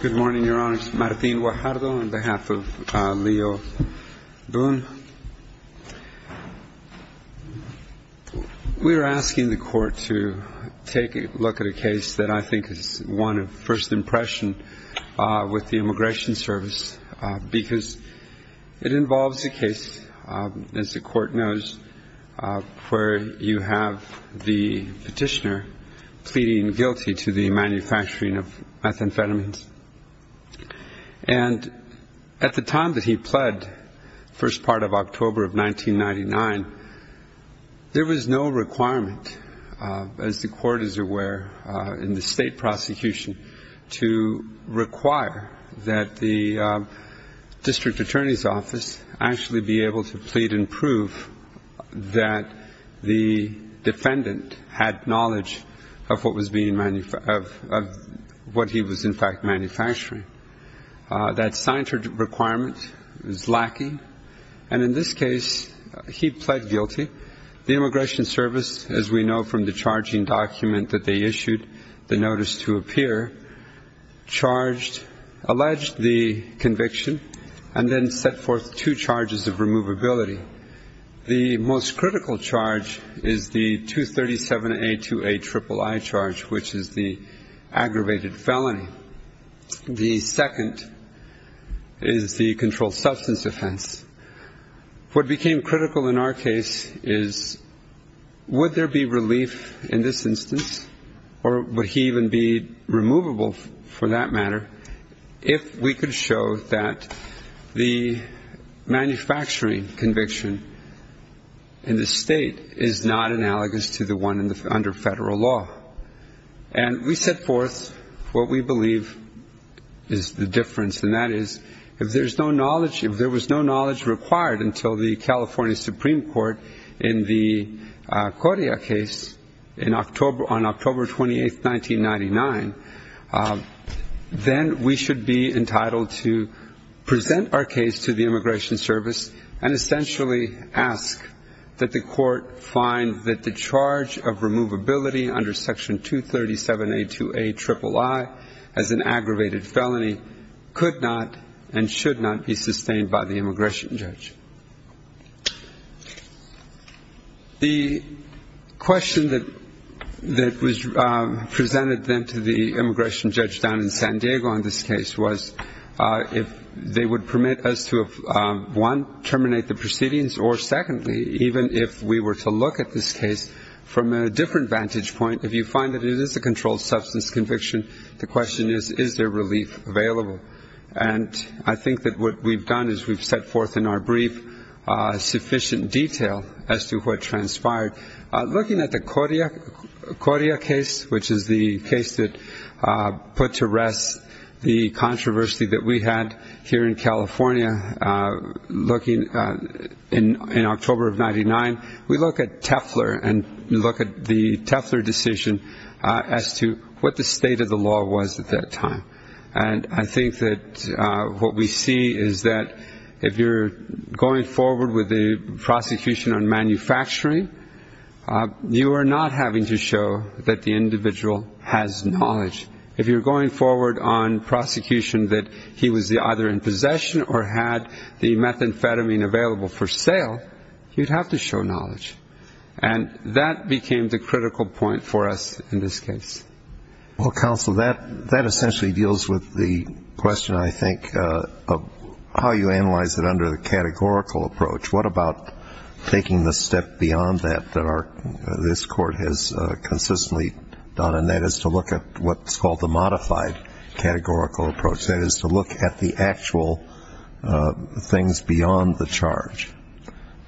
Good morning, Your Honor. It's Martín Guajardo on behalf of Leo Boone. We are asking the Court to take a look at a case that I think is one of first impression with the Immigration Service because it involves a case, as the Court knows, where you have the petitioner pleading guilty to the manufacturing of methamphetamines. And at the time that he pled, first part of October of 1999, there was no requirement, as the Court is aware, in the state prosecution to require that the District Attorney's Office actually be able to plead and prove that the what he was in fact manufacturing. That signature requirement was lacking, and in this case, he pled guilty. The Immigration Service, as we know from the charging document that they issued, the notice to appear, charged, alleged the conviction, and then set forth two charges of removability. The most critical charge is the 237A2A triple I charge, which is the aggravated felony. The second is the controlled substance offense. What became critical in our case is would there be relief in this instance, or would he even be removable for that matter, if we could show that the manufacturing conviction in the state is not analogous to the one under federal law. And we set forth what we believe is the difference, and that is if there was no knowledge required until the California Supreme Court in the Correa case on October 28, 1999, then we should be entitled to present our case to the Immigration Service and essentially ask that the Court find that the charge of removability under Section 237A2A triple I as an aggravated felony could not and should not be sustained by the question that was presented then to the immigration judge down in San Diego on this case was if they would permit us to, one, terminate the proceedings, or secondly, even if we were to look at this case from a different vantage point, if you find that it is a controlled substance conviction, the question is, is there relief available? And I think that what we've done is we've set forth in our brief sufficient detail as to what transpired. Looking at the Correa case, which is the case that put to rest the controversy that we had here in California, looking in October of 1999, we look at Tefler and look at the Tefler decision as to what the state of the law was at that time. And I think that what we see is that if you're going forward with the prosecution on manufacturing, you are not having to show that the individual has knowledge. If you're going forward on prosecution that he was either in possession or had the methamphetamine available for sale, you'd have to show knowledge. And that became the critical point for us in this case. Well, Counsel, that essentially deals with the question, I think, of how you analyze it under the categorical approach. What about taking the step beyond that that this Court has consistently done, and that is to look at what's called the modified categorical approach. That is to look at the actual things beyond the charge.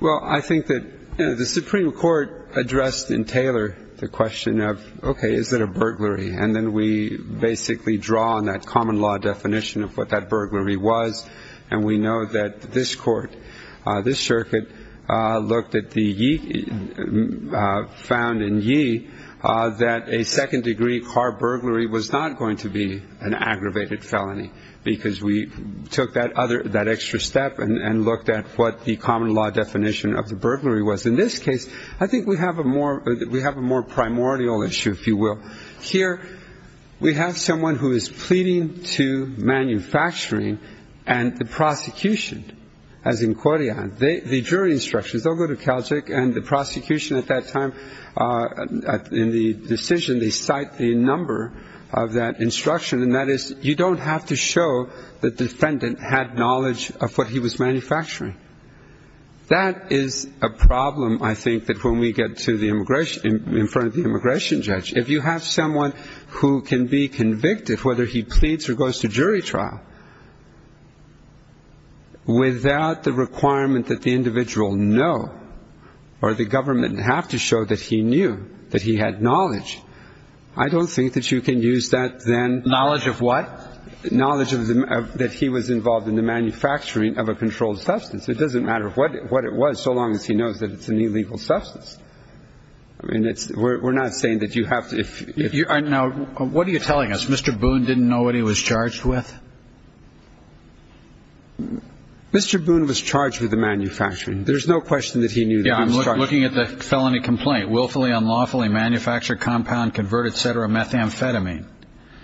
Well, I think that the Supreme Court addressed in Taylor the question of, okay, is it a burglary? And then we basically draw on that common law definition of what that burglary was. And we know that this Court, this circuit, looked at the ye, found in ye that a second degree car burglary was not going to be an aggravated felony, because we took that extra step and looked at what the common law definition of the burglary was. In this case, I think we have a more, we have a more primordial issue, if you will. Here we have someone who is pleading to manufacturing, and the prosecution, as in Koryan, the jury instructions, they'll go to Kalchik, and the prosecution at that time, in the decision, they cite the number of that instruction. And that is, you don't have to show the defendant had knowledge of what he was manufacturing. That is a problem, I think, that when we get to the immigration, in front of the immigration judge. If you have someone who can be convicted, whether he pleads or goes to jury trial, without the requirement that the individual know, or the government have to show that he knew, that he had knowledge, I don't think that you can use that then. Knowledge of what? Knowledge of that he was involved in the manufacturing of a controlled substance. It doesn't matter what it was, so long as he knows that it's an illegal substance. I mean, we're not saying that you have to, if. You are now, what are you telling us? Mr. Boone didn't know what he was charged with? Mr. Boone was charged with the manufacturing. There's no question that he knew. Yeah, I'm looking at the felony complaint. Willfully, unlawfully, manufacture, compound, convert, et cetera, methamphetamine.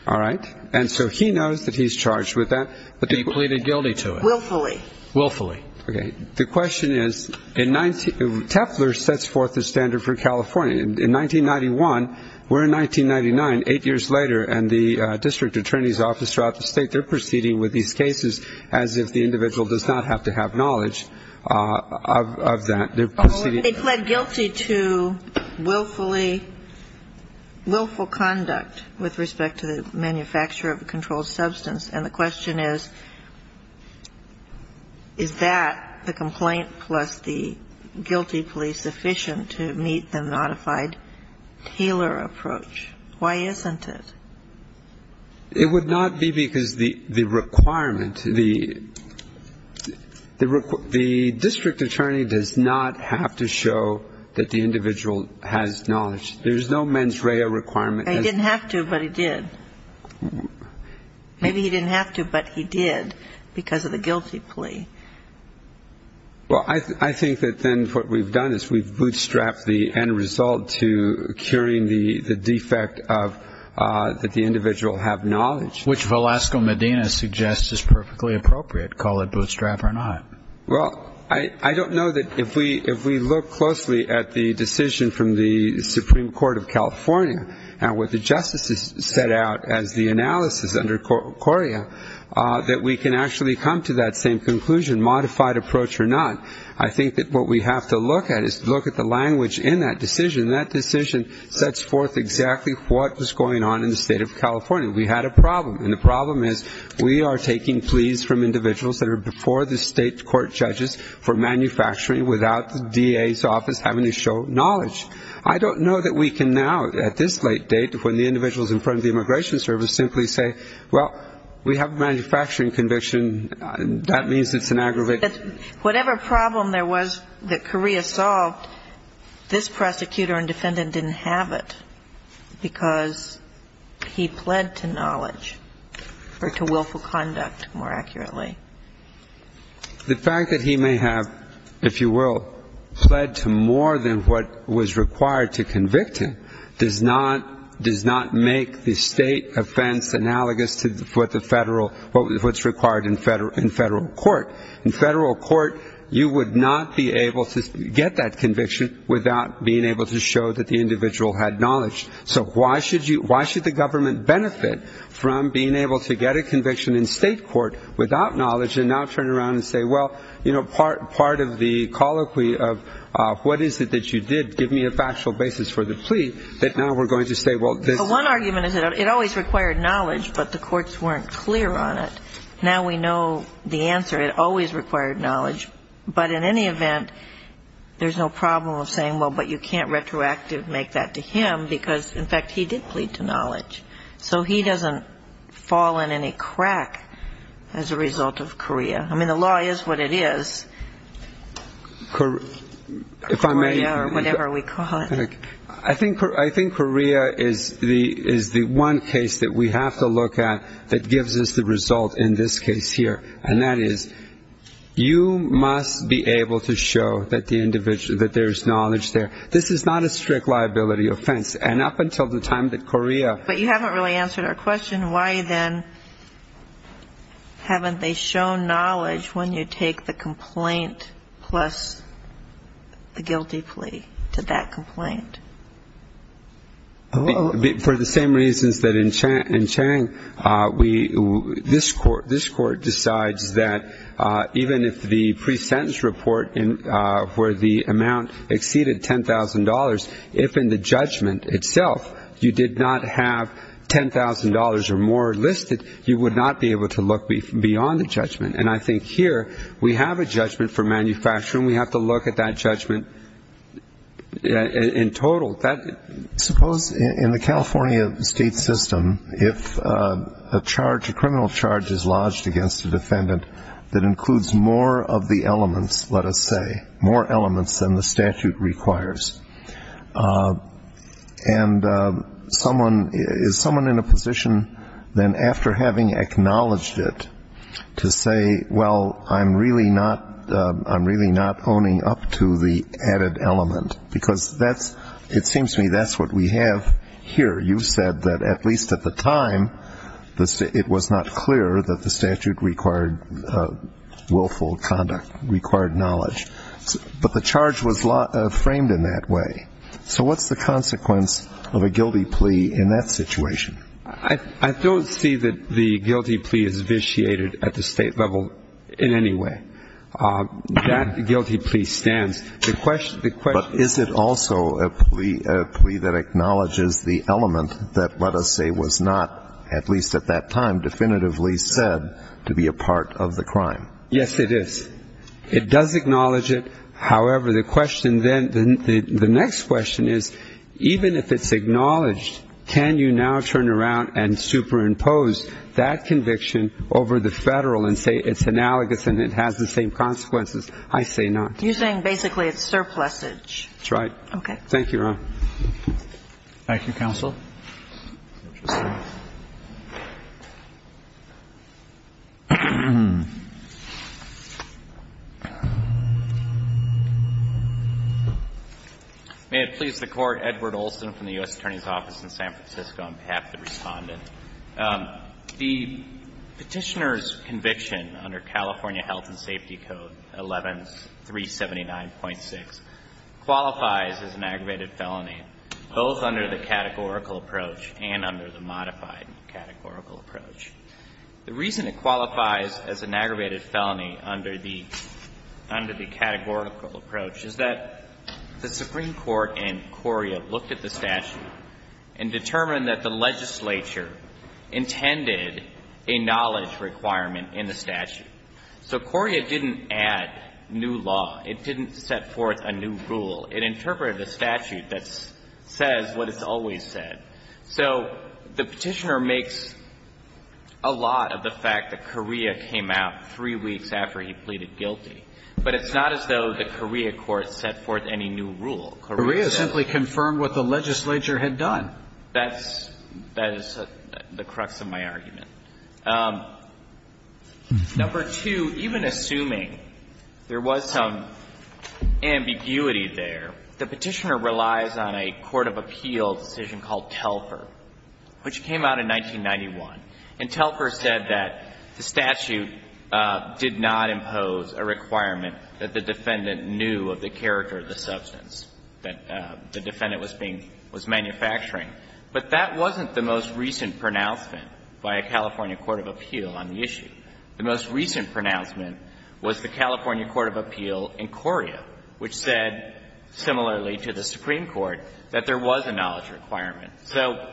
All right, and so he knows that he's charged with that. He pleaded guilty to it. Willfully. Willfully. Okay, the question is, Tefler sets forth the standard for California. In 1991, we're in 1999, eight years later, and the district attorney's office throughout the state, they're proceeding with these cases as if the individual does not have to have knowledge of that. They plead guilty to willfully, willful conduct with respect to the manufacture of a controlled substance, and the question is, is that the complaint plus the guilty plea sufficient to meet the modified Taylor approach? Why isn't it? It would not be because the requirement, the district attorney does not have to show that the individual has knowledge. There's no mens rea requirement. He didn't have to, but he did. Maybe he didn't have to, but he did because of the guilty plea. Well, I think that then what we've done is we've bootstrapped the end result to curing the defect of that the individual have knowledge. Which Velasco Medina suggests is perfectly appropriate, call it bootstrap or not. Well, I don't know that if we look closely at the decision from the Supreme Court of California and what the conclusion, modified approach or not, I think that what we have to look at is look at the language in that decision. That decision sets forth exactly what was going on in the state of California. We had a problem, and the problem is we are taking pleas from individuals that are before the state court judges for manufacturing without the DA's office having to show knowledge. I don't know that we can now, at this late date, when the individual is in front of the immigration service, simply say, well, we have a manufacturing conviction. That means it's an aggravation. Whatever problem there was that Correa solved, this prosecutor and defendant didn't have it because he pled to knowledge or to willful conduct, more accurately. The fact that he may have, if you will, pled to more than what was required to convict him does not make the state of California defense analogous to what's required in federal court. In federal court, you would not be able to get that conviction without being able to show that the individual had knowledge. So why should the government benefit from being able to get a conviction in state court without knowledge and now turn around and say, well, part of the colloquy of what is it that you did, give me a factual basis for the plea, that now we're going to say, well, this. One argument is that it always required knowledge, but the courts weren't clear on it. Now we know the answer. It always required knowledge. But in any event, there's no problem of saying, well, but you can't retroactively make that to him because, in fact, he did plead to knowledge. So he doesn't fall in any crack as a result of Correa. I mean, the law is what it is. Correa or whatever we call it. I think Correa is the one case that we have to look at that gives us the result in this case here, and that is you must be able to show that the individual, that there's knowledge there. This is not a strict liability offense. And up until the time that Correa ---- But you haven't really answered our question. And why, then, haven't they shown knowledge when you take the complaint plus the guilty plea to that complaint? For the same reasons that in Chang, this Court decides that even if the pre-sentence report where the amount exceeded $10,000, if in the judgment itself you did not have $10,000 or more listed, you would not be able to look beyond the judgment. And I think here we have a judgment for manufacturing. We have to look at that judgment in total. Suppose in the California state system, if a criminal charge is lodged against a defendant that includes more of the elements, let us say, more elements than the statute requires, and is someone in a position then after having acknowledged it to say, well, I'm really not owning up to the added element, because it seems to me that's what we have here. You've said that at least at the time it was not clear that the statute required willful conduct, required knowledge. But the charge was framed in that way. So what's the consequence of a guilty plea in that situation? I don't see that the guilty plea is vitiated at the state level in any way. That guilty plea stands. But is it also a plea that acknowledges the element that, let us say, was not at least at that time definitively said to be a part of the crime? Yes, it is. It does acknowledge it. However, the question then, the next question is, even if it's acknowledged, can you now turn around and superimpose that conviction over the Federal and say it's analogous and it has the same consequences? I say not. You're saying basically it's surplusage. That's right. Thank you, Your Honor. Thank you, counsel. May it please the Court. Edward Olson from the U.S. Attorney's Office in San Francisco on behalf of the Respondent. The Petitioner's conviction under California Health and Safety Code 11379.6 qualifies as an aggravated felony, both under the categorical approach and under the modified categorical approach. The reason it qualifies as an aggravated felony under the categorical approach is that the Supreme Court in Correa looked at the statute and determined that the legislature intended a knowledge requirement in the statute. So Correa didn't add new law. It didn't set forth a new rule. It interpreted a statute that says what it's always said. So the Petitioner makes a lot of the fact that Correa came out three weeks after he pleaded guilty. It didn't set forth any new rule. Correa simply confirmed what the legislature had done. That's the crux of my argument. Number two, even assuming there was some ambiguity there, the Petitioner relies on a court of appeal decision called Telfer, which came out in 1991. And Telfer said that the statute did not impose a requirement that the defendant knew of the character of the substance that the defendant was being — was manufacturing. But that wasn't the most recent pronouncement by a California court of appeal on the issue. The most recent pronouncement was the California court of appeal in Correa, which said, similarly to the Supreme Court, that there was a knowledge requirement. So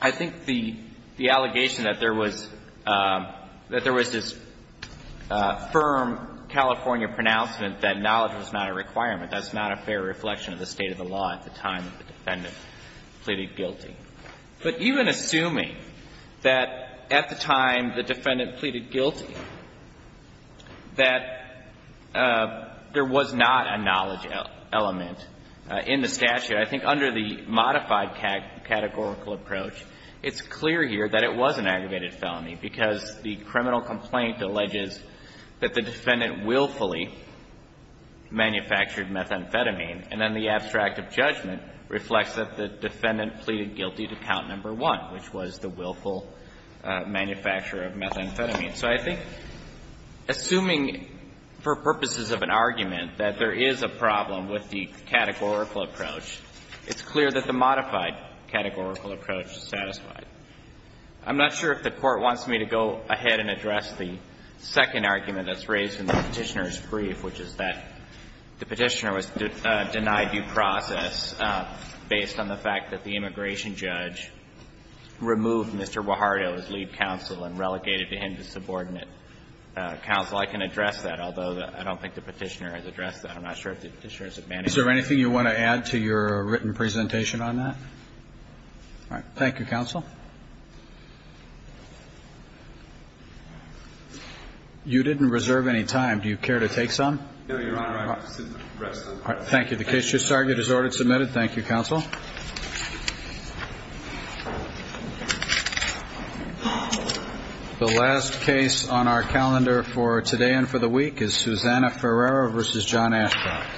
I think the allegation that there was — that there was this firm California pronouncement that knowledge was not a requirement, that's not a fair reflection of the state of the law at the time that the defendant pleaded guilty. But even assuming that at the time the defendant pleaded guilty, that there was not a categorical approach, it's clear here that it was an aggravated felony, because the criminal complaint alleges that the defendant willfully manufactured methamphetamine, and then the abstract of judgment reflects that the defendant pleaded guilty to count number one, which was the willful manufacture of methamphetamine. So I think assuming for purposes of an argument that there is a problem with the categorical approach, it's clear that the modified categorical approach is satisfied. I'm not sure if the Court wants me to go ahead and address the second argument that's raised in the Petitioner's brief, which is that the Petitioner was denied due process based on the fact that the immigration judge removed Mr. Guajardo's right to leave counsel and relegated him to subordinate counsel. I can address that, although I don't think the Petitioner has addressed that. I'm not sure if the Petitioner has a mandate. Is there anything you want to add to your written presentation on that? All right. Thank you, counsel. You didn't reserve any time. Do you care to take some? No, Your Honor. I can sit and rest a little. All right. The case just argued as ordered, submitted. Thank you, counsel. The last case on our calendar for today and for the week is Susanna Ferreira v. John Ashcroft.